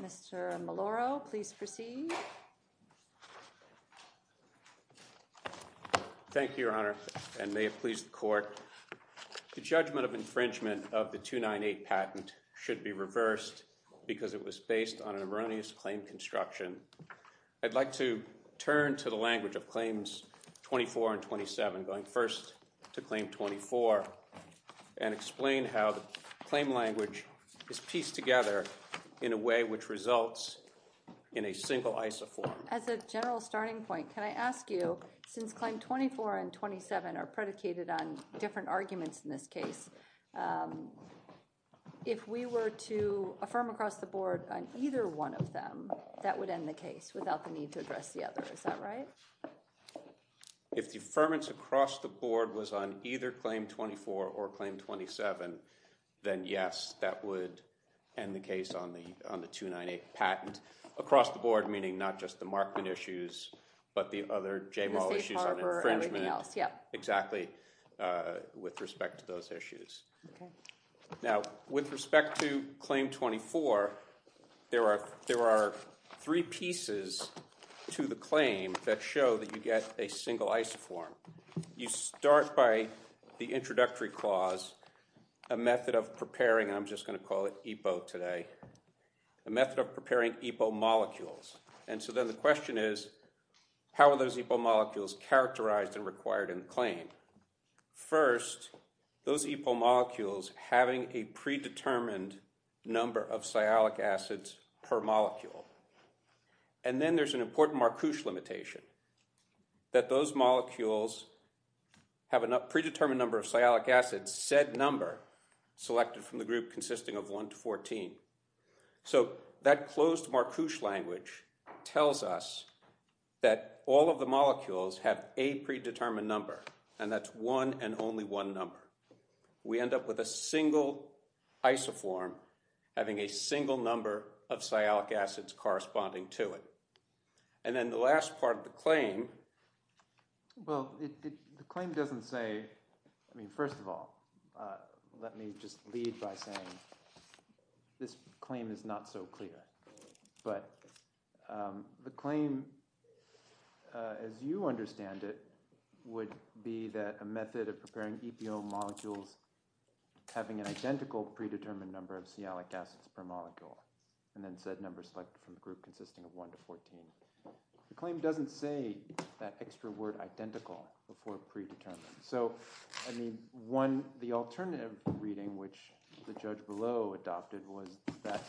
Mr. Maloro, please proceed. Thank you, Your Honor, and may it please the Court, the judgment of infringement of the 298 patent should be reversed because it was based on an erroneous claim construction. I'd like to turn to the language of Claims 24 and 27, going first to Claim 24, and explain how the claim language is pieced together in a way which results in a single isoform. As a general starting point, can I ask you, since Claim 24 and 27 are predicated on different arguments in this case, if we were to affirm across the board on either one of them, that would end the case without the need to address the other, is that right? If the affirmance across the board was on either Claim 24 or Claim 27, then yes, that would end the case on the 298 patent. Across the board, meaning not just the Markman issues, but the other Jamal issues on infringement, exactly, with respect to those issues. Now, with respect to three pieces to the claim that show that you get a single isoform, you start by the introductory clause, a method of preparing, and I'm just going to call it EPO today, a method of preparing EPO molecules. And so then the question is, how are those EPO molecules characterized and required in the claim? First, those EPO molecules having a predetermined number of sialic acids per molecule. And then there's an important Marcouche limitation, that those molecules have a predetermined number of sialic acids, said number selected from the group consisting of 1 to 14. So that closed Marcouche language tells us that all of the molecules have a predetermined number, and that's one and only one number. We end up with a single isoform having a single number of sialic acids corresponding to it. And then the last part of the claim. Well, the claim doesn't say, I mean, first of all, let me just lead by saying this claim is not so clear. But the claim, as you understand it, would be that a method of preparing EPO molecules having an identical predetermined number of sialic acids per molecule. And then said number selected from the group consisting of 1 to 14. The claim doesn't say that extra word identical before predetermined. So I mean, one, the alternative reading which the judge below adopted was that,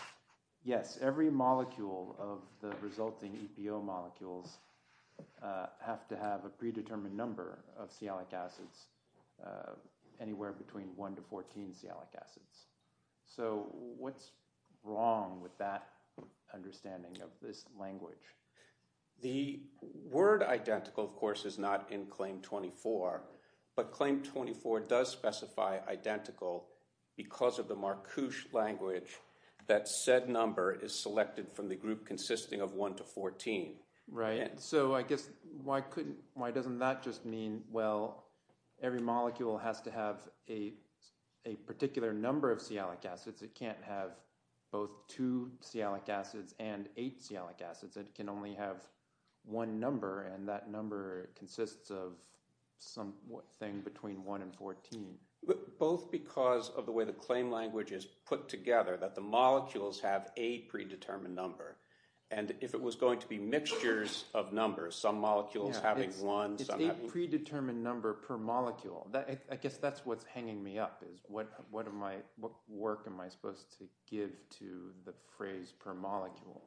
yes, every molecule of the resulting EPO molecules have to have a predetermined number of sialic acids, anywhere between 1 to 14 sialic acids. So what's wrong with that understanding of this language? The word identical, of course, is not in claim 24. But claim 24 does specify identical because of the Marcouche language that said number is selected from the group consisting of 1 to 14. Right. So I guess why couldn't, why doesn't that just mean, well, every molecule has to have a particular number of sialic acids. It can't have both 2 sialic acids and 8 sialic acids. It can only have one number. And that number consists of some thing between 1 and 14. Both because of the way the claim language is put together, that the molecules have a predetermined number. And if it was going to be mixtures of numbers, some molecules having one. It's a predetermined number per molecule. I guess that's what's hanging me up, what work am I supposed to give to the phrase per molecule?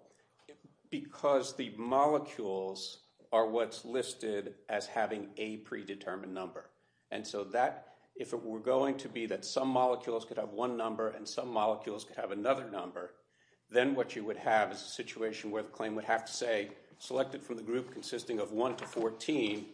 Because the molecules are what's listed as having a predetermined number. And so that, if it were going to be that some molecules could have one number and some molecules could have another number, then what you would have is a situation where the claim would have to say, selected from the group consisting of 1 to 14,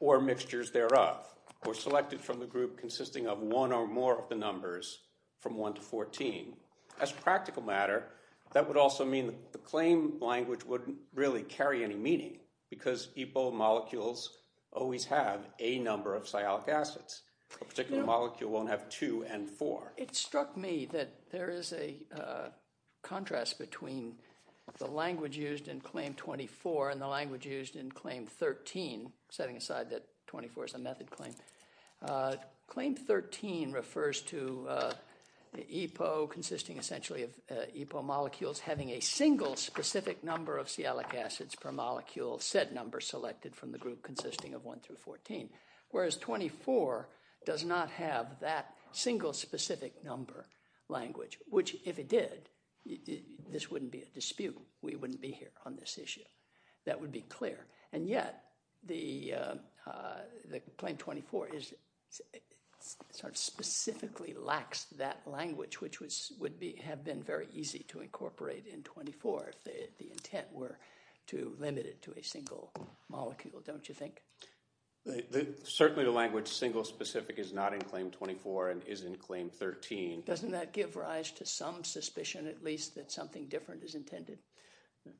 or mixtures thereof. Or selected from the group consisting of one or more of the numbers from 1 to 14. As a practical matter, that would also mean the claim language wouldn't really carry any meaning. Because epo molecules always have a number of sialic acids. A particular molecule won't have 2 and 4. It struck me that there is a contrast between the language used in claim 24 and the language in claim 13. Claim 13 refers to the epo consisting essentially of epo molecules having a single specific number of sialic acids per molecule, said number selected from the group consisting of 1 through 14. Whereas 24 does not have that single specific number language. Which, if it did, this wouldn't be a dispute. We wouldn't be here on this issue. That would be clear. And yet, the claim 24 sort of specifically lacks that language which would have been very easy to incorporate in 24 if the intent were to limit it to a single molecule, don't you think? Certainly the language single specific is not in claim 24 and is in claim 13. Doesn't that give rise to some suspicion, at least, that something different is intended?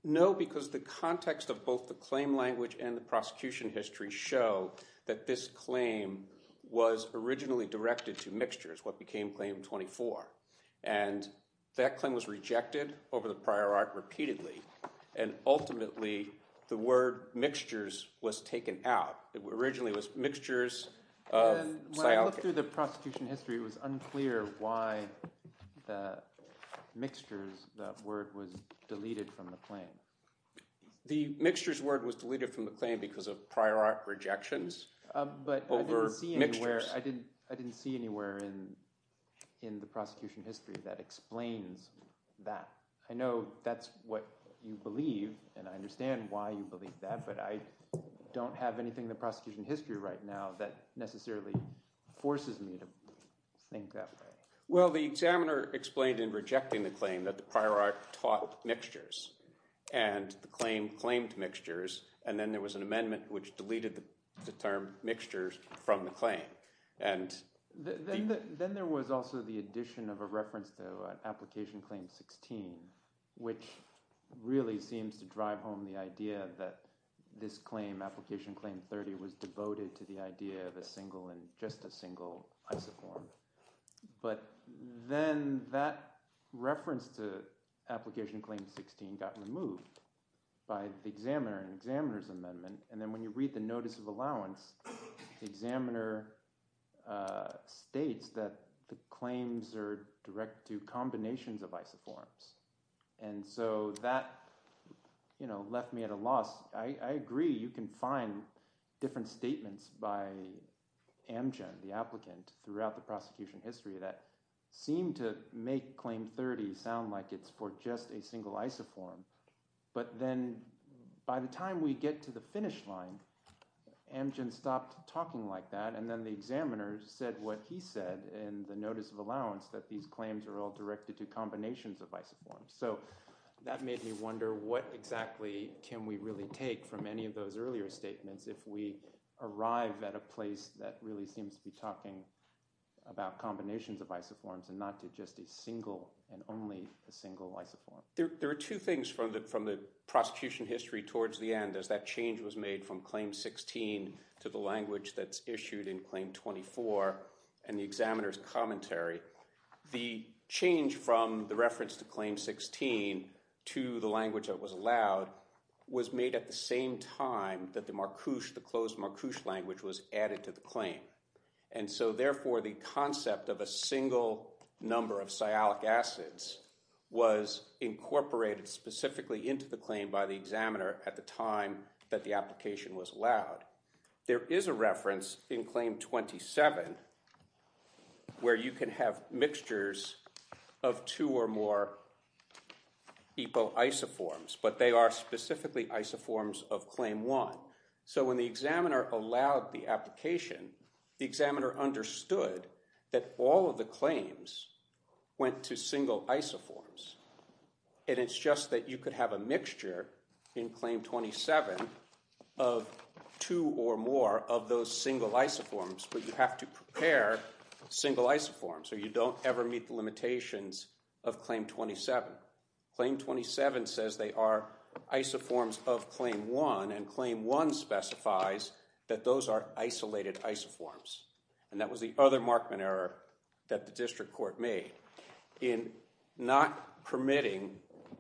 No, because the context of both the claim language and the prosecution history show that this claim was originally directed to mixtures, what became claim 24. And that claim was rejected over the prior art repeatedly. And ultimately, the word mixtures was taken out. It originally was mixtures of sialicate. When I looked through the prosecution history, it was unclear why the mixtures, that word, was deleted from the claim. The mixtures word was deleted from the claim because of prior art rejections over mixtures. But I didn't see anywhere in the prosecution history that explains that. I know that's what you believe. And I understand why you believe that. But I don't have anything in the prosecution history right now that necessarily forces me to think that way. Well, the examiner explained in rejecting the claim that the prior art taught mixtures. And the claim claimed mixtures. And then there was an amendment which deleted the term mixtures from the claim. Then there was also the addition of a reference to application claim 16, which really seems to drive home the idea that this claim, application claim 30, was devoted to the idea of a single and just a single isoform. But then that reference to application claim 16 got removed by the examiner and examiner's amendment. And then when you read the notice of allowance, the examiner states that the claims are direct to combinations of isoforms. And so that, you know, left me at a loss. I agree, you can find different statements by Amgen, the applicant, throughout the prosecution history that seem to make claim 30 sound like it's for just a single isoform. But then by the time we get to the finish line, Amgen stopped talking like that. And then the examiner said what he said in the notice of isoforms. So that made me wonder what exactly can we really take from any of those earlier statements if we arrive at a place that really seems to be talking about combinations of isoforms and not to just a single and only a single isoform. There are two things from the prosecution history towards the end as that change was made from claim 16 to the language that's issued in claim 16 to the language that was allowed was made at the same time that the MARCUSH, the closed MARCUSH language was added to the claim. And so therefore the concept of a single number of sialic acids was incorporated specifically into the claim by the examiner at the time that the application was allowed. There is a reference in claim 27 where you can have mixtures of two or more epo isoforms, but they are specifically isoforms of claim one. So when the examiner allowed the application, the examiner understood that all of the claims went to single isoforms. And it's just that you could have a mixture in claim 27 of two or more of those single isoforms, but you have to prepare single isoforms or you don't ever meet the limitations of claim 27. Claim 27 says they are isoforms of claim one and claim one specifies that those are isolated isoforms. And that was the other Markman error that the district court made in not permitting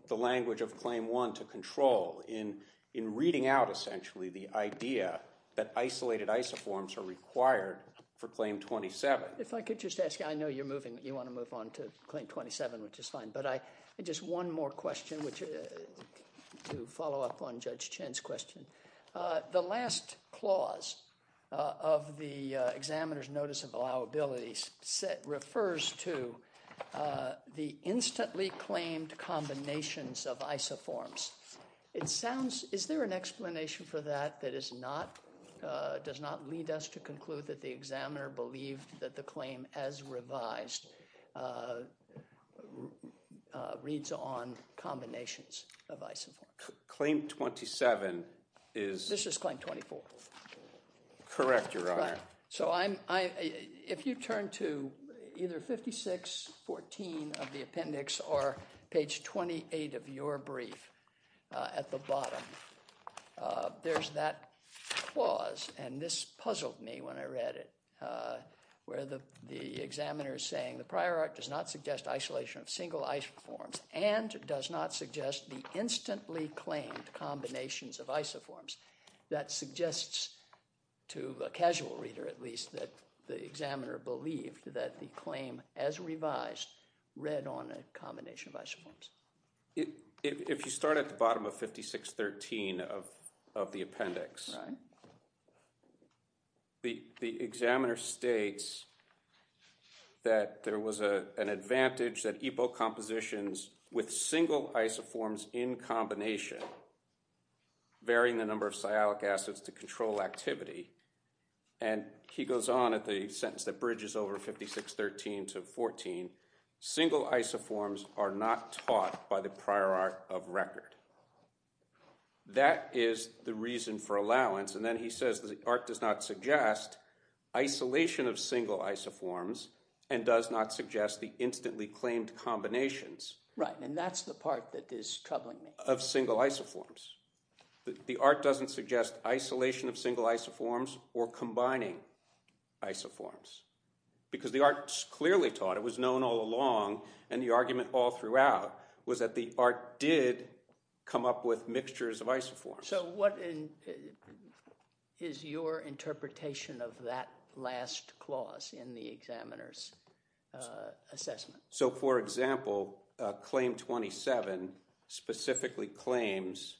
the language of claim one to control in reading out essentially the idea that isolated isoforms are required for claim 27. If I could just ask, I know you're moving, you want to move on to claim 27, which is fine, but I just one more question, which to follow up on Judge Chen's question, uh, the last clause, uh, of the, uh, examiner's notice of allowability set refers to, uh, the instantly claimed combinations of isoforms. It sounds, is there an explanation for that? That is not, uh, does not lead us to conclude that the examiner believed that the claim as revised, uh, uh, reads on combinations of isoforms. Claim 27 is... This is claim 24. Correct, your honor. So I'm, I, if you turn to either 5614 of the appendix or page 28 of your brief, uh, at the bottom, uh, there's that clause, and this puzzled me when I read it, uh, where the, the examiner is saying the prior art does not suggest isolation of single isoforms and does not suggest the instantly claimed combinations of isoforms. That suggests to a casual reader at least that the examiner believed that the claim as revised read on a combination of isoforms. If, if you start at the bottom of 5613 of, of the appendix, the, the examiner states that there was a, an advantage that epo compositions with single isoforms in combination, varying the number of sialic acids to control activity, and he goes on at the sentence that 5613 to 14, single isoforms are not taught by the prior art of record. That is the reason for allowance, and then he says the art does not suggest isolation of single isoforms and does not suggest the instantly claimed combinations. Right, and that's the part that is troubling me. Of single isoforms. The art doesn't suggest isolation of single isoforms or combining isoforms, because the art clearly taught, it was known all along, and the argument all throughout was that the art did come up with mixtures of isoforms. So what is your interpretation of that last clause in the examiner's assessment? So for example, claim 27 specifically claims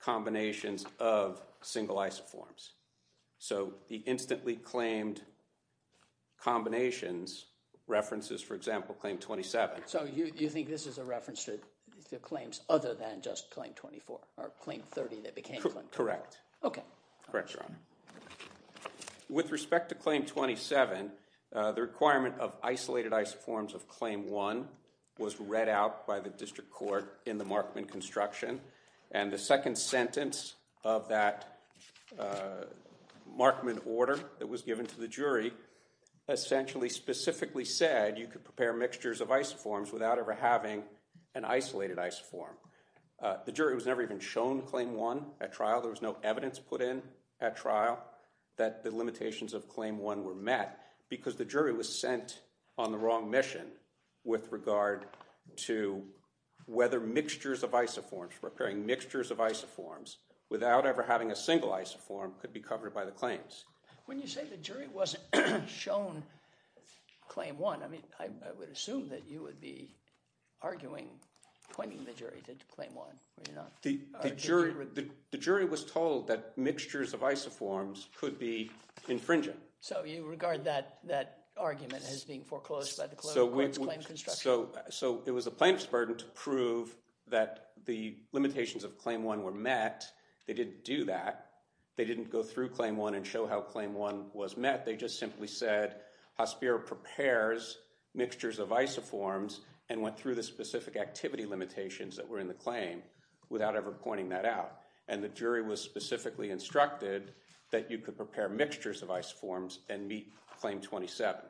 combinations of single isoforms. So the instantly claimed combinations references, for example, claim 27. So you think this is a reference to the claims other than just claim 24 or claim 30 that became? Correct. Okay. Correct. With respect to claim 27, the requirement of isolated isoforms of claim one was read out by the district court in the Markman construction, and the second sentence of that Markman order that was given to the jury essentially specifically said you could prepare mixtures of isoforms without ever having an isolated isoform. The jury was never even shown claim one at trial. There was no evidence put in at trial that the limitations of claim one were met because the jury was sent on the wrong mission with regard to whether mixtures of isoforms, without ever having a single isoform, could be covered by the claims. When you say the jury wasn't shown claim one, I mean, I would assume that you would be arguing, pointing the jury to claim one. The jury was told that mixtures of isoforms could be infringing. So you regard that argument as being foreclosed by the claim construction? So it was the plaintiff's burden to prove that the limitations of claim one were met. They didn't do that. They didn't go through claim one and show how claim one was met. They just simply said Hospiro prepares mixtures of isoforms and went through the specific activity limitations that were in the claim without ever pointing that out. And the jury was specifically instructed that you could prepare mixtures of isoforms and meet claim 27.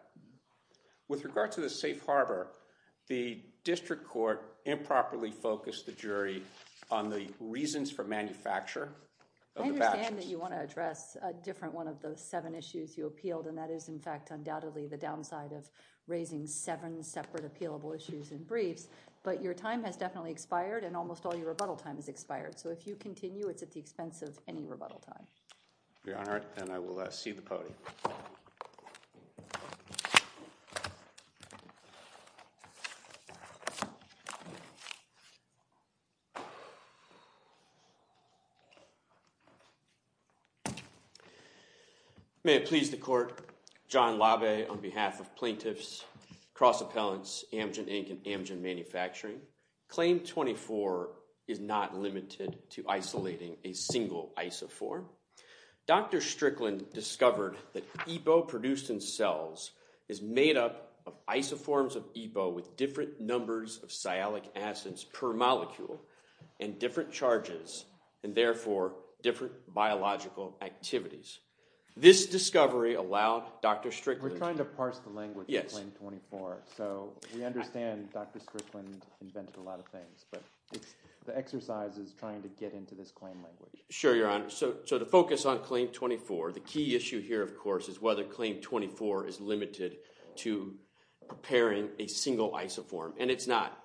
With regard to the safe harbor, the district court improperly focused the jury on the reasons for manufacture. I understand that you want to address a different one of those seven issues you appealed, and that is, in fact, undoubtedly the downside of raising seven separate appealable issues in briefs. But your time has definitely expired, and almost all your rebuttal time has expired. So if you continue, it's at the expense of any rebuttal time. Your Honor, and I will see the podium. May it please the court. John LaVey, on behalf of plaintiffs, cross appellants, Amgen Inc., and Amgen Manufacturing, claim 24 is not limited to isolating a single isoform. Dr. Strickland discovered that EPO produced in cells is made up of isoforms of EPO with different numbers of sialic acids per molecule, and different charges, and therefore, different biological activities. This discovery allowed Dr. Strickland- We're trying to parse the language in claim 24. So we understand Dr. Strickland invented a lot of things, but the exercise is trying to get into this claim language. Sure, Your Honor. So to focus on claim 24, the key issue here, of course, is whether claim 24 is limited to preparing a single isoform. And it's not.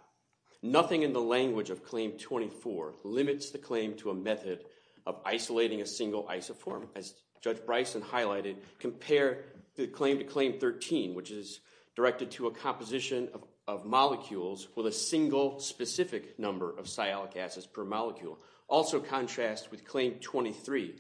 Nothing in the language of claim 24 limits the claim to a method of isolating a single isoform. As Judge Bryson highlighted, compare the claim to claim 13, which is directed to a composition of molecules with a single specific number of sialic acids per molecule. Also contrast with claim 23,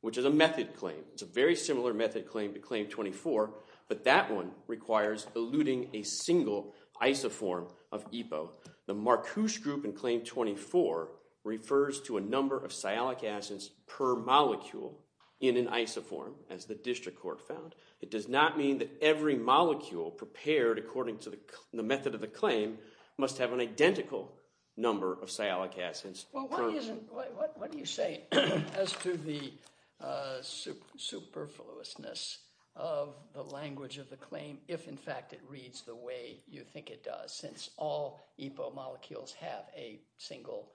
which is a method claim. It's a very similar method claim to claim 24, but that one requires eluding a single isoform of EPO. The Marcuse group in claim 24 refers to a number of sialic acids per molecule in an isoform, as the district court found. It does not mean that every molecule prepared according to the method of the claim must have an identical number of sialic acids. Well, what do you say as to the superfluousness of the language of the claim, if, in fact, it reads the way you think it does, since all EPO molecules have a single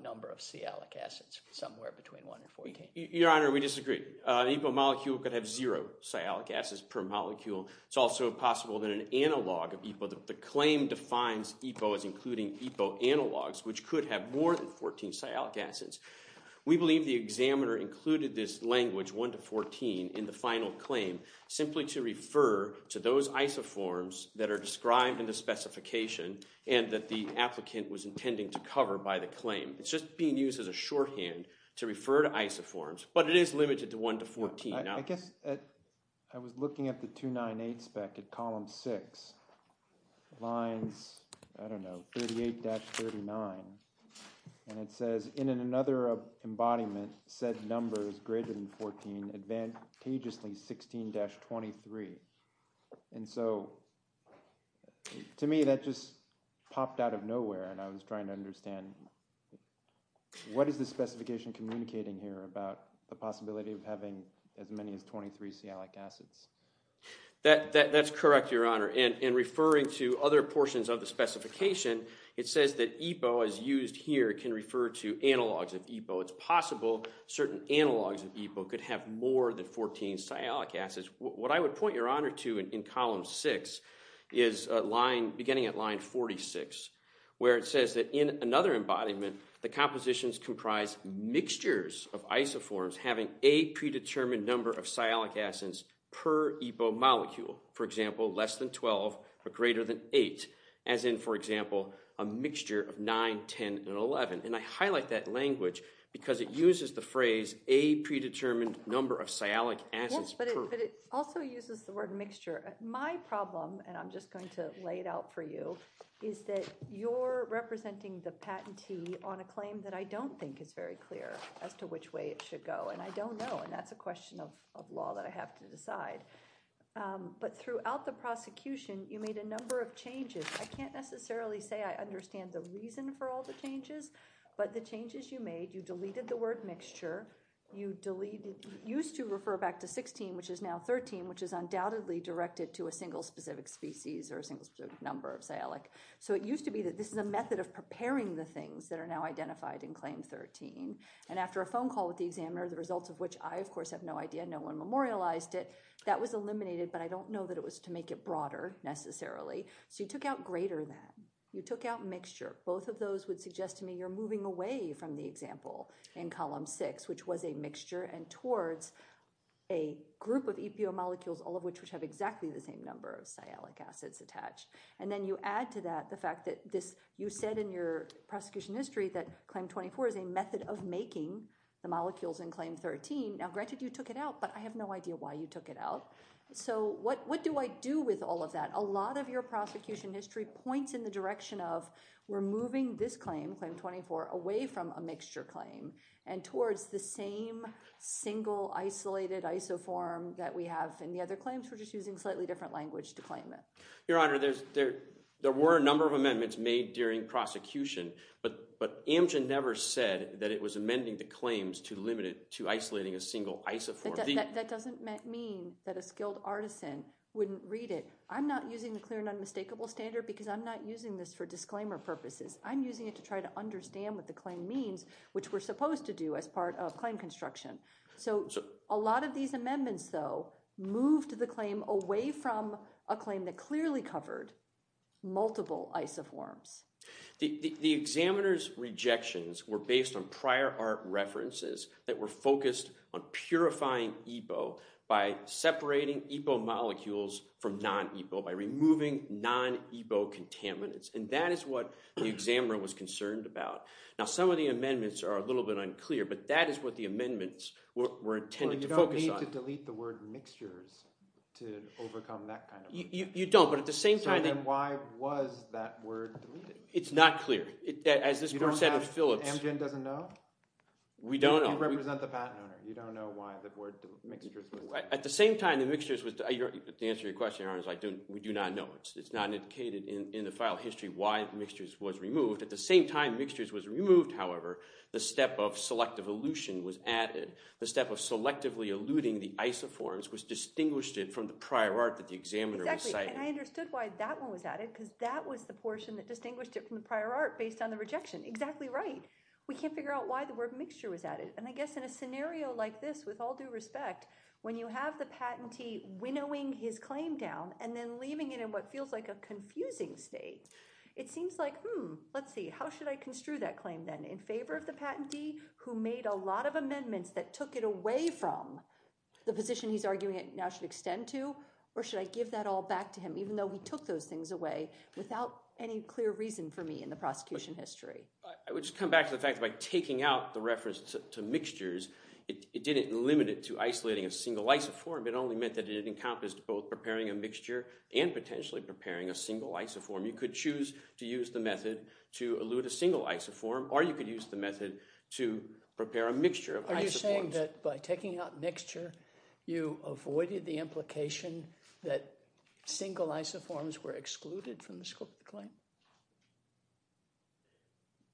number of sialic acids, somewhere between 1 and 14? Your Honor, we disagree. EPO molecule could have zero sialic acids per molecule. It's also possible that an analog of EPO, the claim defines EPO as including EPO analogs, which could have more than 14 sialic acids. We believe the examiner included this language, 1 to 14, in the final claim, simply to refer to those isoforms that are described in the specification and that the applicant was intending to cover by the claim. It's just being used as a shorthand to refer to isoforms, but it is limited to 1 to 14. I guess I was looking at the 298 spec at column 6, lines, I don't know, 38-39, and it says, in another embodiment, said number is greater than 14, advantageously 16-23, and so to me, that just popped out of nowhere, and I was trying to understand what is the specification communicating here about the possibility of having as many as 23 sialic acids? That's correct, Your Honor, and referring to other portions of the specification, it says that EPO, as used here, can refer to analogs of EPO. It's possible certain analogs of EPO could have more than 14 sialic acids. What I would point Your Honor to in column 6 is a line, beginning at line 46, where it of isoforms having a predetermined number of sialic acids per EPO molecule, for example, less than 12 or greater than 8, as in, for example, a mixture of 9, 10, and 11, and I highlight that language because it uses the phrase a predetermined number of sialic acids. Yes, but it also uses the word mixture. My problem, and I'm just going to lay it out for you, is that you're representing the patentee on a claim that I don't think is very clear. As to which way it should go. And I don't know, and that's a question of law that I have to decide. But throughout the prosecution, you made a number of changes. I can't necessarily say I understand the reason for all the changes, but the changes you made, you deleted the word mixture. You used to refer back to 16, which is now 13, which is undoubtedly directed to a single specific species or a single specific number of sialic. So it used to be that this is a method of preparing the things that are now identified in claim 13. And after a phone call with the examiner, the results of which I, of course, have no idea, no one memorialized it, that was eliminated. But I don't know that it was to make it broader necessarily. So you took out greater than. You took out mixture. Both of those would suggest to me you're moving away from the example in column 6, which was a mixture and towards a group of EPO molecules, all of which have exactly the same number of sialic acids attached. And then you add to that the fact that this, you said in your prosecution history that claim 24 is a method of making the molecules in claim 13. Now, granted, you took it out, but I have no idea why you took it out. So what do I do with all of that? A lot of your prosecution history points in the direction of, we're moving this claim, claim 24, away from a mixture claim and towards the same single isolated isoform that we have in the other claims. We're just using slightly different language to claim it. Your Honor, there were a number of amendments made during prosecution, but Amgen never said that it was amending the claims to limit it to isolating a single isoform. That doesn't mean that a skilled artisan wouldn't read it. I'm not using the clear and unmistakable standard because I'm not using this for disclaimer purposes. I'm using it to try to understand what the claim means, which we're supposed to do as part of claim construction. So a lot of these amendments, though, moved the claim away from a claim that clearly covered multiple isoforms. The examiner's rejections were based on prior art references that were focused on purifying EPO by separating EPO molecules from non-EPO, by removing non-EPO contaminants. And that is what the examiner was concerned about. Now, some of the amendments are a little bit unclear, but that is what the amendments were intended to focus on. You don't have to delete the word mixtures to overcome that kind of... You don't, but at the same time... So then why was that word deleted? It's not clear. As this court said in Phillips... Amgen doesn't know? We don't know. You represent the patent owner. You don't know why the word mixtures was... At the same time, the mixtures was... To answer your question, Your Honor, we do not know. It's not indicated in the file history why mixtures was removed. At the same time mixtures was removed, however, the step of selective elution was added. The step of selectively eluting the isoforms was distinguished it from the prior art that the examiner was citing. And I understood why that one was added, because that was the portion that distinguished it from the prior art based on the rejection. Exactly right. We can't figure out why the word mixture was added. And I guess in a scenario like this, with all due respect, when you have the patentee winnowing his claim down and then leaving it in what feels like a confusing state, it seems like, hmm, let's see, how should I construe that claim then? In favor of the patentee who made a lot of amendments that took it away from the position he's arguing it now should extend to? Or should I give that all back to him, even though he took those things away without any clear reason for me in the prosecution history? I would just come back to the fact by taking out the reference to mixtures, it didn't limit it to isolating a single isoform. It only meant that it encompassed both preparing a mixture and potentially preparing a single isoform. You could choose to use the method to elute a single isoform, or you could use the method to prepare a mixture of isoforms. Are you saying that by taking out mixture, you avoided the implication that single isoforms were excluded from the claim?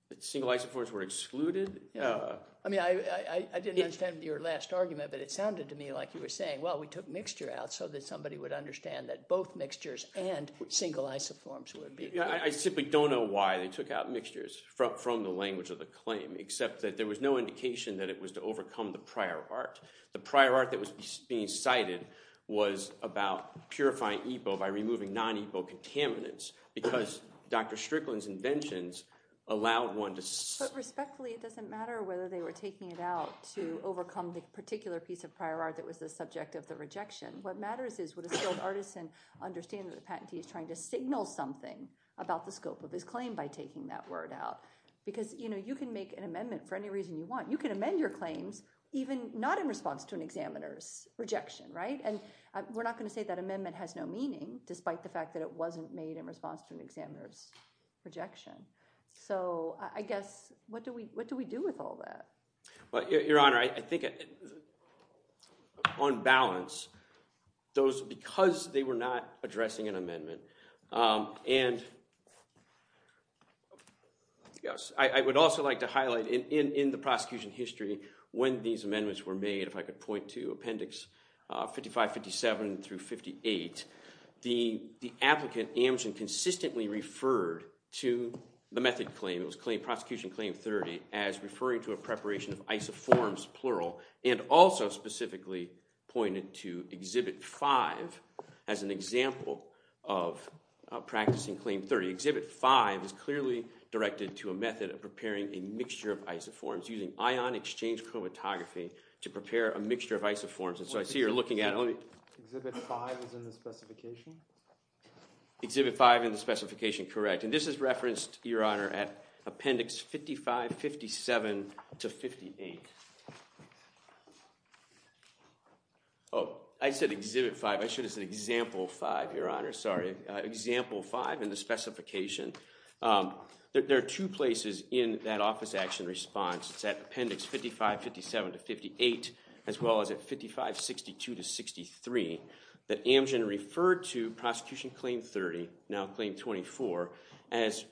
That single isoforms were excluded? I mean, I didn't understand your last argument, but it sounded to me like you were saying, well, we took mixture out so that somebody would understand that both mixtures and single isoforms would be. I simply don't know why they took out mixtures from the language of the claim, except that there was no indication that it was to overcome the prior art. The prior art that was being cited was about purifying EPO by removing non-EPO contaminants because Dr. Strickland's inventions allowed one to... But respectfully, it doesn't matter whether they were taking it out to overcome the particular piece of prior art that was the subject of the rejection. What matters is would a skilled artisan understand that the patentee is trying to signal something about the scope of his claim by taking that word out? Because you can make an amendment for any reason you want. You can amend your claims even not in response to an examiner's rejection, right? And we're not going to say that amendment has no meaning, despite the fact that it wasn't made in response to an examiner's rejection. So I guess, what do we do with all that? Well, Your Honor, I think on balance, and I would also like to highlight in the prosecution history, when these amendments were made, if I could point to Appendix 55, 57 through 58, the applicant, Amjad, consistently referred to the method claim, it was prosecution claim 30, as referring to a preparation of isoforms, plural, and also specifically pointed to Exhibit 5 as an example of practicing claim 30. Exhibit 5 is clearly directed to a method of preparing a mixture of isoforms, using ion exchange chromatography to prepare a mixture of isoforms. And so I see you're looking at it, let me- Exhibit 5 is in the specification? Exhibit 5 in the specification, correct. And this is referenced, Your Honor, at Appendix 55, 57 to 58. Oh, I said Exhibit 5. I should have said Example 5, Your Honor, sorry. Example 5 in the specification. There are two places in that office action response. It's at Appendix 55, 57 to 58, as well as at 55, 62 to 63, that Amjad referred to prosecution claim 30, now claim 24, as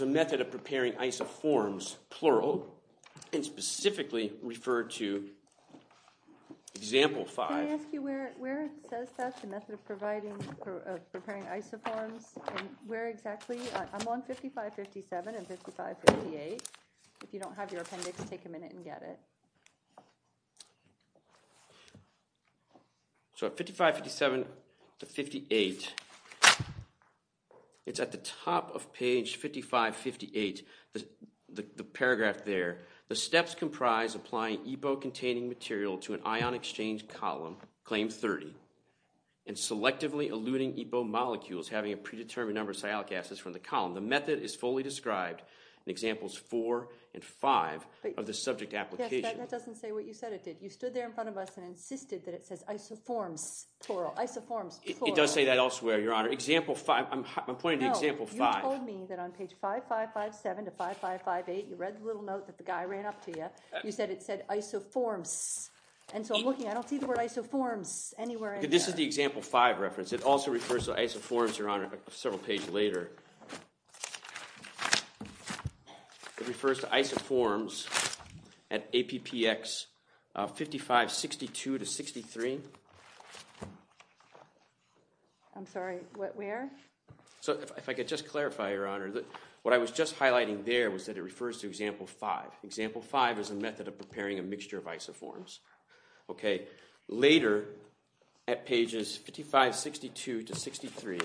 a method of preparing isoforms, plural, and specifically referred to Example 5. Can I ask you where it says that, the method of providing, of preparing isoforms, and where exactly? I'm on 55, 57 and 55, 58. If you don't have your appendix, take a minute and get it. So at 55, 57 to 58, it's at the top of page 55, 58, the paragraph there. The steps comprise applying EBO-containing material to an ion exchange column, claim 30, and selectively eluting EBO molecules, having a predetermined number of sialic acids from the column. The method is fully described in Examples 4 and 5 of the subject application. That doesn't say what you said it did. You stood there in front of us and insisted that it says isoforms, plural, isoforms, plural. It does say that elsewhere, Your Honor. Example 5, I'm pointing to Example 5. No, you told me that on page 55, 57 to 55, 58, you read the little note that the guy ran up to you. You said it said isoforms, and so I'm looking, I don't see the word isoforms anywhere in there. This is the Example 5 reference. It also refers to isoforms, Your Honor, several pages later. It refers to isoforms at APPX 55, 62 to 63. I'm sorry, what, where? So if I could just clarify, Your Honor, what I was just highlighting there was that it refers to Example 5. Example 5 is a method of preparing a mixture of isoforms. OK, later at pages 55, 62 to 63,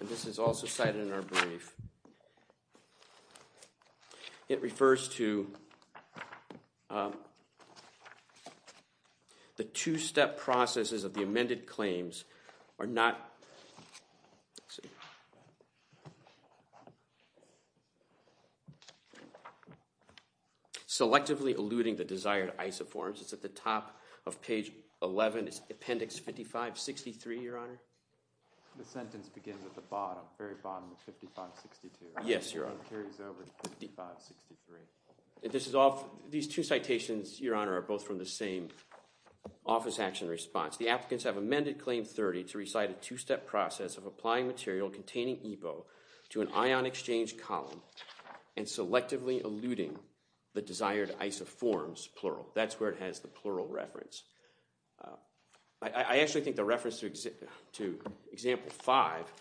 and this is also cited in our brief, it refers to the two-step processes of the amended claims are not selectively eluding the desired isoforms. It's at the top of page 11, it's Appendix 55, 63, Your Honor. The sentence begins at the bottom, very bottom of 55, 62. Yes, Your Honor. It carries over to 55, 63. These two citations, Your Honor, are both from the same office action response. The applicants have amended Claim 30 to recite a two-step process of applying material containing IBO to an ion exchange column and selectively eluding the desired isoforms, plural. That's where it has the plural reference. I actually think the reference to Example 5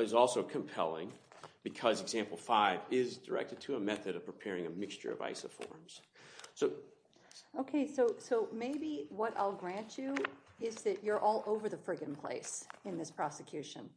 is also compelling because Example 5 is directed to a method of preparing a mixture of isoforms. OK, so maybe what I'll grant you is that you're all over the frigging place in this prosecution.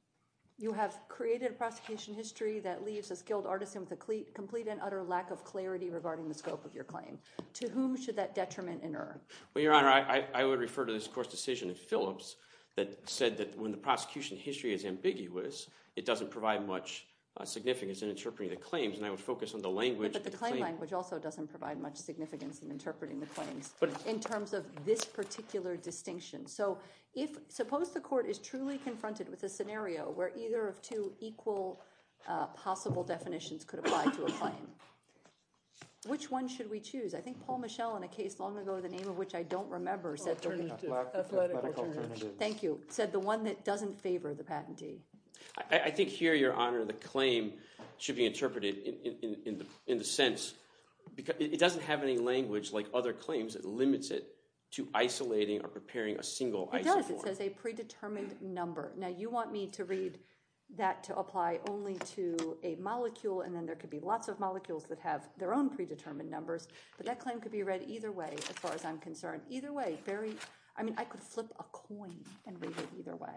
You have created a prosecution history that leaves a skilled artisan with a complete and utter lack of clarity regarding the scope of your claim. To whom should that detriment inerr? Well, Your Honor, I would refer to this court's decision in Phillips that said that when the prosecution history is ambiguous, it doesn't provide much significance in interpreting the claims. And I would focus on the language. But the claim language also doesn't provide much significance in interpreting the claims in terms of this particular distinction. So suppose the court is truly confronted with a scenario where either of two equal possible definitions could apply to a claim. Which one should we choose? I think Paul Michel, in a case long ago, the name of which I don't remember, said the one that doesn't favor the patentee. I think here, Your Honor, the claim should be interpreted in the sense because it doesn't have any language like other claims. It limits it to isolating or preparing a single isoform. It does. It says a predetermined number. Now, you want me to read that to apply only to a molecule. And then there could be lots of molecules that have their own predetermined numbers. But that claim could be read either way, as far as I'm concerned. Either way, very, I mean, I could flip a coin and read it either way.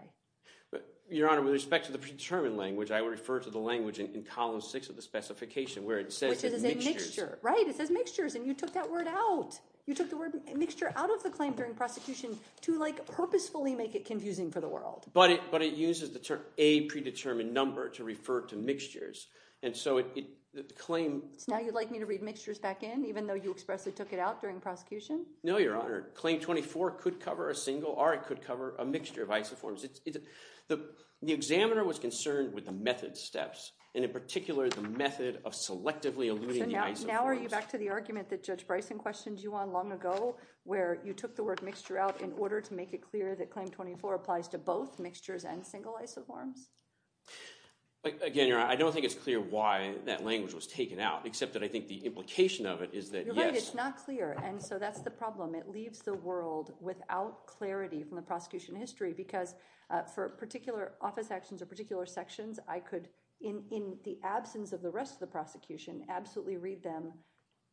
Your Honor, with respect to the predetermined language, I would refer to the language in column six of the specification where it says mixtures. Right, it says mixtures. And you took that word out. You took the word mixture out of the claim during prosecution to purposefully make it confusing for the world. But it uses the term a predetermined number to refer to mixtures. And so the claim. So now you'd like me to read mixtures back in, even though you expressly took it out during prosecution? No, Your Honor. Claim 24 could cover a single, or it could cover a mixture of isoforms. The examiner was concerned with the method steps, and in particular, the method of selectively eluding the isoforms. So now are you back to the argument that Judge Bryson questioned you on long ago, where you took the word mixture out in order to make it clear that Claim 24 applies to both mixtures and single isoforms? Again, Your Honor, I don't think it's clear why that language was taken out, except that I think the implication of it is that, yes. Your Honor, it's not clear. And so that's the problem. It leaves the world without clarity from the prosecution history. Because for particular office actions or particular sections, I could, in the absence of the rest of the prosecution, absolutely read them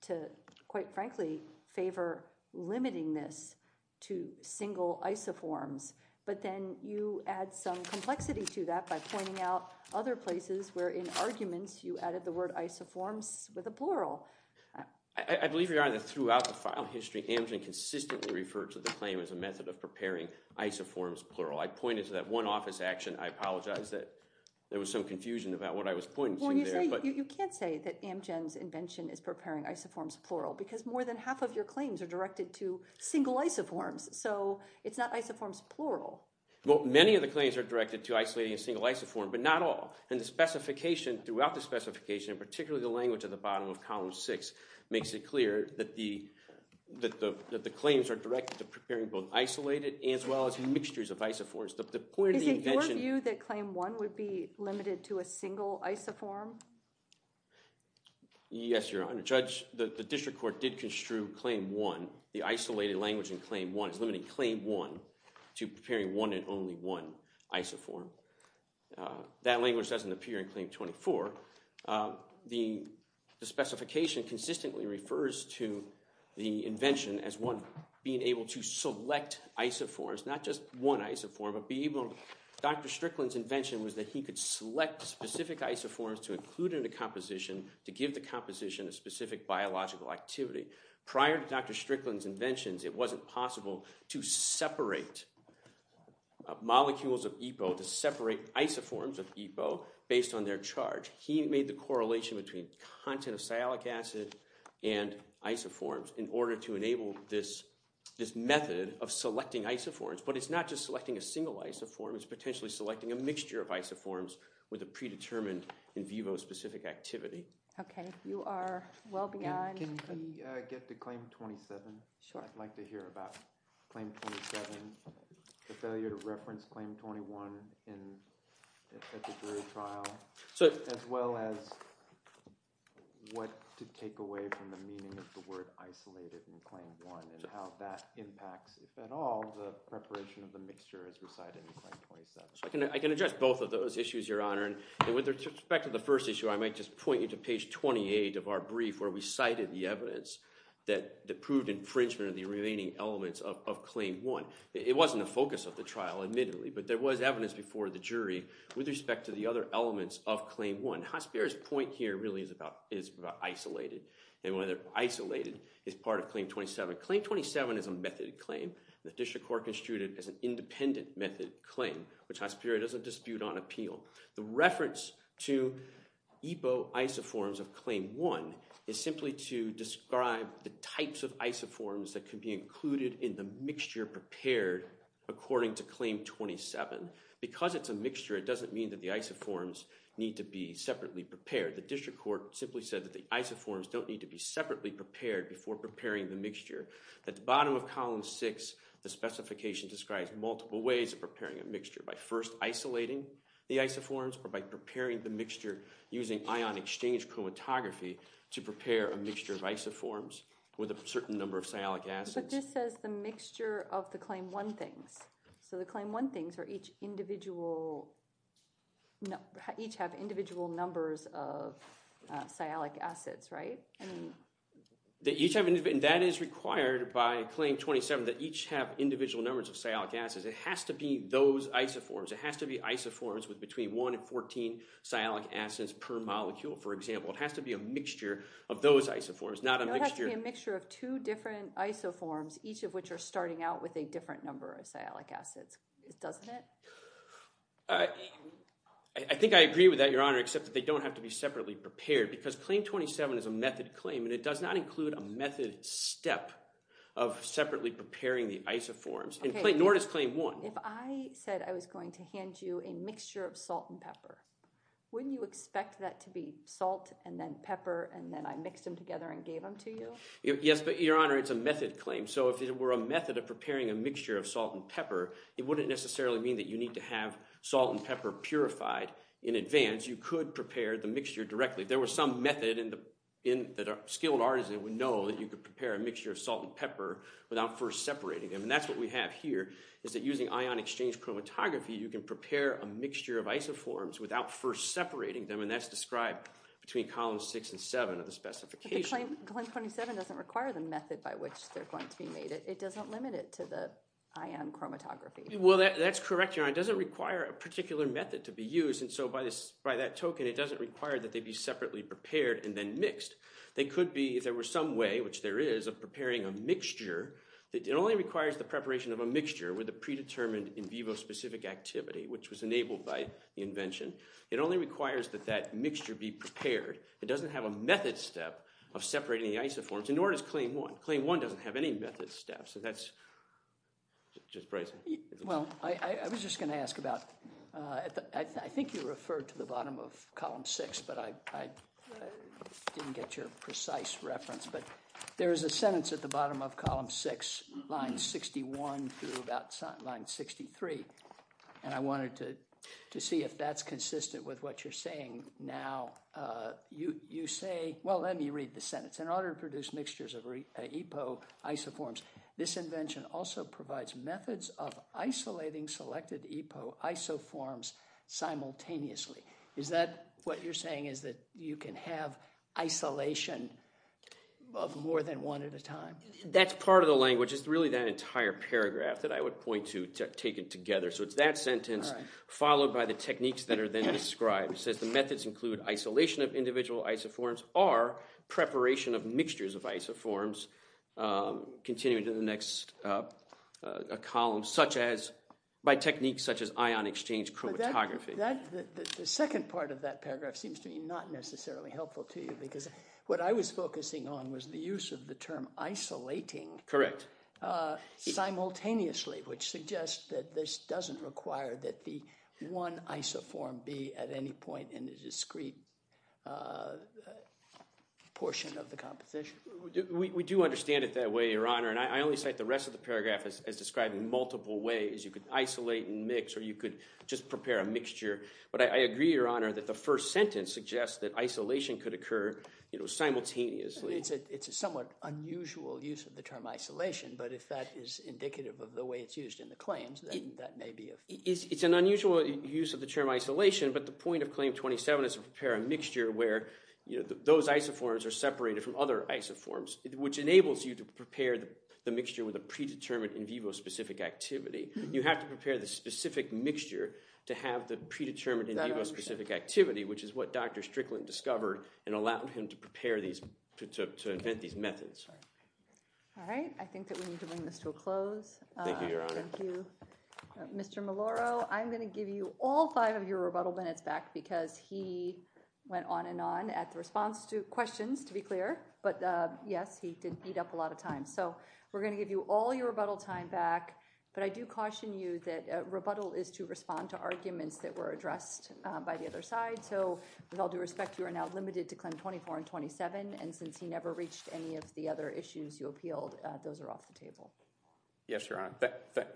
to, quite frankly, favor limiting this to single isoforms. But then you add some complexity to that by pointing out other places where, in arguments, you added the word isoforms with a plural. I believe, Your Honor, that throughout the file history, Amgen consistently referred to the claim as a method of preparing isoforms plural. I pointed to that one office action. I apologize that there was some confusion about what I was pointing to there. Well, you can't say that Amgen's invention is preparing isoforms plural, because more than half of your claims are directed to single isoforms. So it's not isoforms plural. Well, many of the claims are directed to isolating a single isoform, but not all. And the specification, throughout the specification, and particularly the language at the bottom of column six, makes it clear that the claims are directed to preparing both isolated as well as mixtures of isoforms. The point of the invention. Is it your view that claim one would be limited to a single isoform? Yes, Your Honor. Judge, the district court did construe claim one. The isolated language in claim one is limiting claim one to preparing one and only one isoform. That language doesn't appear in claim 24. The specification consistently refers to the invention as one being able to select isoforms. Not just one isoform, but being able to. Dr. Strickland's invention was that he could select specific isoforms to include in a composition to give the composition a specific biological activity. Prior to Dr. Strickland's inventions, it wasn't possible to separate molecules of EPO to separate isoforms of EPO based on their charge. He made the correlation between content of sialic acid and isoforms in order to enable this method of selecting isoforms. But it's not just selecting a single isoform. It's potentially selecting a mixture of isoforms with a predetermined in vivo specific activity. OK, you are well beyond. Can we get to claim 27? Sure. I'd like to hear about claim 27. The failure to reference claim 21 at the jury trial, as well as what to take away from the meaning of the word isolated in claim 1, and how that impacts, if at all, the preparation of the mixture as recited in claim 27. I can address both of those issues, Your Honor. And with respect to the first issue, I might just point you to page 28 of our brief where we cited the evidence that proved infringement of the remaining elements of claim 1. It wasn't the focus of the trial, admittedly. But there was evidence before the jury with respect to the other elements of claim 1. Hasbira's point here really is about isolated. And whether isolated is part of claim 27. Claim 27 is a methoded claim. The district court construed it as an independent method claim, which Hasbira doesn't dispute on appeal. The reference to epo isoforms of claim 1 is simply to describe the types of isoforms that could be included in the mixture prepared according to claim 27. Because it's a mixture, it doesn't mean that the isoforms need to be separately prepared. The district court simply said that the isoforms don't need to be separately prepared before preparing the mixture. At the bottom of column 6, the specification describes multiple ways of preparing a mixture by first isolating the isoforms, or by preparing the mixture using ion exchange chromatography to prepare a mixture of isoforms with a certain number of sialic acids. But this says the mixture of the claim 1 things. So the claim 1 things are each individual, each have individual numbers of sialic acids, right? That each have individual, and that is required by claim 27, that each have individual numbers of sialic acids. It has to be those isoforms. It has to be isoforms with between 1 and 14 sialic acids per molecule, for example. It has to be a mixture of those isoforms, not a mixture. It has to be a mixture of two different isoforms, each of which are starting out with a different number of sialic acids, doesn't it? I think I agree with that, Your Honor, except that they don't have to be separately prepared. Because claim 27 is a method claim, and it does not include a method step of separately preparing the isoforms, nor does claim 1. If I said I was going to hand you expect that to be salt, and then pepper, and then I mixed them together and gave them to you? Yes, but Your Honor, it's a method claim. So if it were a method of preparing a mixture of salt and pepper, it wouldn't necessarily mean that you need to have salt and pepper purified in advance. You could prepare the mixture directly. There was some method that a skilled artisan would know that you could prepare a mixture of salt and pepper without first separating them. And that's what we have here, is that using ion exchange chromatography, you can prepare a mixture of isoforms without first separating them. And that's described between columns 6 and 7 of the specification. But the claim 27 doesn't require the method by which they're going to be made. It doesn't limit it to the ion chromatography. Well, that's correct, Your Honor. It doesn't require a particular method to be used. And so by that token, it doesn't require that they be separately prepared and then mixed. They could be, if there were some way, which there is, of preparing a mixture. It only requires the preparation of a mixture with a predetermined in vivo specific activity, which was enabled by the invention. It only requires that that mixture be prepared. It doesn't have a method step of separating the isoforms. And nor does claim 1. Claim 1 doesn't have any method step. So that's just bracing. Well, I was just going to ask about, I think you referred to the bottom of column 6, but I didn't get your precise reference. But there is a sentence at the bottom of column 6, line 61 through about line 63. And I wanted to see if that's consistent with what you're saying now. You say, well, let me read the sentence. In order to produce mixtures of EPO isoforms, this invention also provides methods of isolating selected EPO isoforms simultaneously. Is that what you're saying, is that you can have isolation of more than one at a time? That's part of the language. It's really that entire paragraph that I would point to taken together. So it's that sentence followed by the techniques that are then described. It says, the methods include isolation of individual isoforms or preparation of mixtures of isoforms. Continuing to the next column, by techniques such as ion exchange chromatography. The second part of that paragraph seems to be not necessarily helpful to you. Because what I was focusing on was the use of the term isolating simultaneously, which suggests that this doesn't require that the one isoform be at any point in the discrete portion of the composition. We do understand it that way, Your Honor. And I only cite the rest of the paragraph as describing multiple ways. You could isolate and mix, or you could just prepare a mixture. But I agree, Your Honor, that the first sentence suggests that isolation could occur simultaneously. It's a somewhat unusual use of the term isolation. But if that is indicative of the way it's used in the claims, then that may be of use. It's an unusual use of the term isolation. But the point of Claim 27 is to prepare a mixture where those isoforms are separated from other isoforms, which enables you to prepare the mixture with a predetermined in vivo specific activity. You have to prepare the specific mixture to have the predetermined in vivo specific activity, which is what Dr. Strickland discovered and allowed him to invent these methods. All right. I think that we need to bring this to a close. Thank you, Your Honor. Thank you. Mr. Maloro, I'm going to give you all five of your rebuttal minutes back because he went on and on at the response to questions, to be clear. But yes, he did beat up a lot of time. So we're going to give you all your rebuttal time back. But I do caution you that rebuttal is to respond to arguments that were addressed by the other side. So with all due respect, you are now limited to Claim 24 and 27. And since he never reached any of the other issues you appealed, those are off the table. Yes, Your Honor.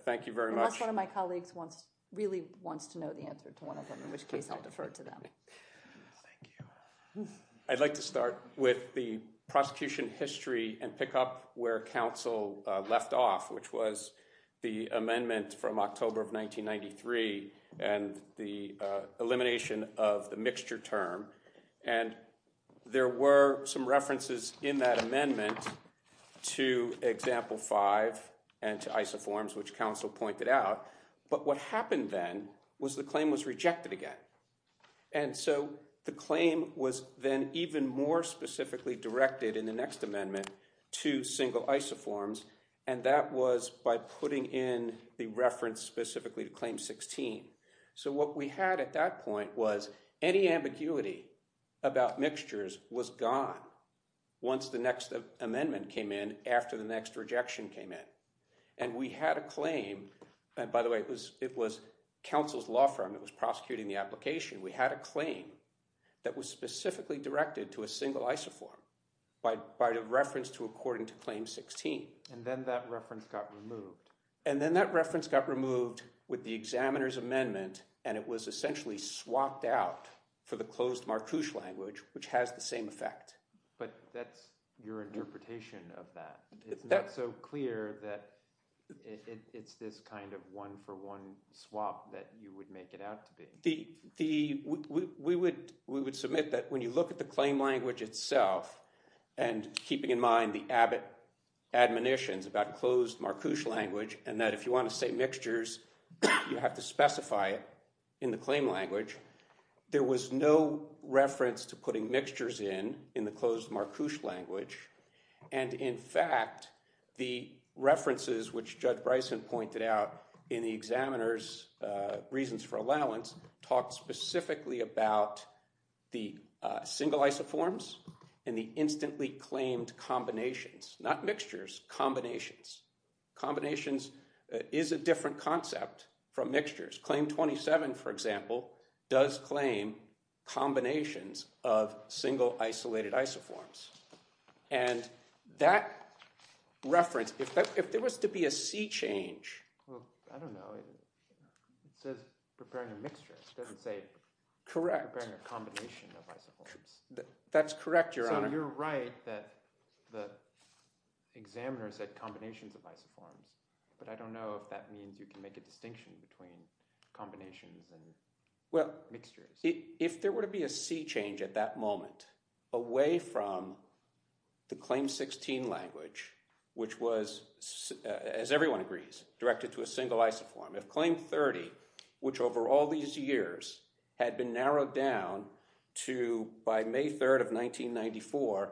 Thank you very much. Unless one of my colleagues wants, really wants to know the answer to one of them, in which case I'll defer to them. Thank you. I'd like to start with the prosecution history and pick up where counsel left off, which was the amendment from October of 1993 and the elimination of the mixture term. And there were some references in that amendment to Example 5 and to isoforms, which counsel pointed out. But what happened then was the claim was rejected again. And so the claim was then even more specifically directed in the next amendment to single isoforms. And that was by putting in the reference specifically to Claim 16. So what we had at that point was any ambiguity about mixtures was gone once the next amendment came in after the next rejection came in. And we had a claim. By the way, it was counsel's law firm that was prosecuting the application. We had a claim that was specifically directed to a single isoform by reference to according to Claim 16. And then that reference got removed. And then that reference got removed with the examiner's amendment. And it was essentially swapped out for the closed Marcouche language, which has the same effect. But that's your interpretation of that. It's not so clear that it's this kind of one-for-one swap that you would make it out to be. We would submit that when you look at the claim language itself, and keeping in mind the Abbott admonitions about closed Marcouche language, and that if you want to say mixtures, you have to specify it in the claim language. There was no reference to putting mixtures in in the closed Marcouche language. And in fact, the references which Judge Bryson pointed out in the examiner's reasons for allowance talked specifically about the single isoforms and the instantly claimed combinations. Not mixtures, combinations. Combinations is a different concept from mixtures. Claim 27, for example, does claim combinations of single isolated isoforms. And that reference, if there was to be a C change. I don't know. It says preparing a mixture. It doesn't say preparing a combination of isoforms. That's correct, Your Honor. So you're right that the examiner said combinations of isoforms. But I don't know if that means you can make a distinction between combinations and mixtures. If there were to be a C change at that moment, away from the claim 16 language, which was, as everyone agrees, directed to a single isoform. If claim 30, which over all these years had been narrowed down to, by May 3rd of 1994,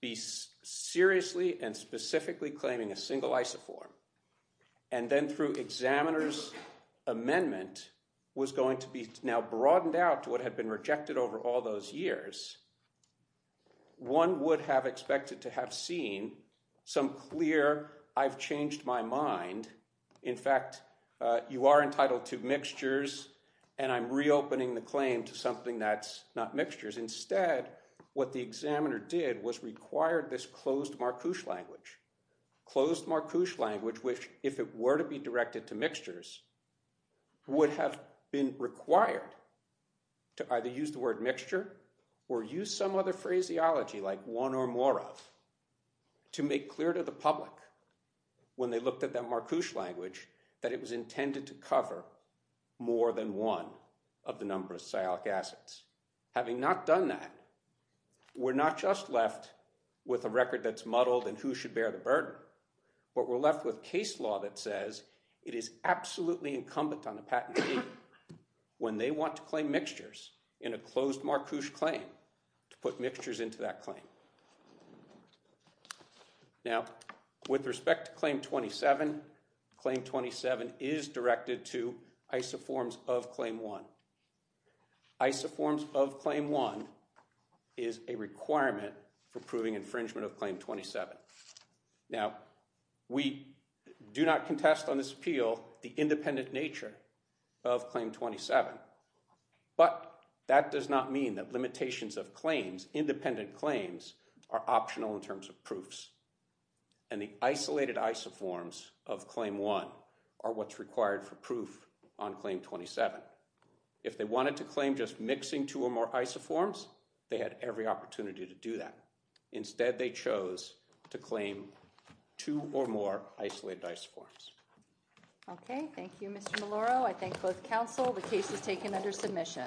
be seriously and specifically claiming a single isoform, and then through examiner's amendment was going to be now broadened out to what had been rejected over all those years, one would have expected to have seen some clear, I've changed my mind. In fact, you are entitled to mixtures. And I'm reopening the claim to something that's not mixtures. Instead, what the examiner did was require this closed marcouche language. Closed marcouche language, which if it were to be directed to mixtures, would have been required to either use the word mixture or use some other phraseology, like one or more of, to make clear to the public when they looked at that marcouche language that it was intended to cover more than one of the number of sialic acids. Having not done that, we're not just left with a record that's muddled and who should bear the burden. But we're left with case law that says it is absolutely incumbent on the patent team when they want to claim mixtures in a closed marcouche claim to put mixtures into that claim. Now, with respect to Claim 27, Claim 27 is directed to isoforms of Claim 1. Isoforms of Claim 1 is a requirement for proving infringement of Claim 27. Now, we do not contest on this appeal the independent nature of Claim 27. of claims, independent claims, are optional in terms of proofs. And the isolated isoforms of Claim 1 are what's required for proof on Claim 27. If they wanted to claim just mixing two or more isoforms, they had every opportunity to do that. Instead, they chose to claim two or more isolated isoforms. OK, thank you, Mr. Maloro. I thank both counsel. The case is taken under submission.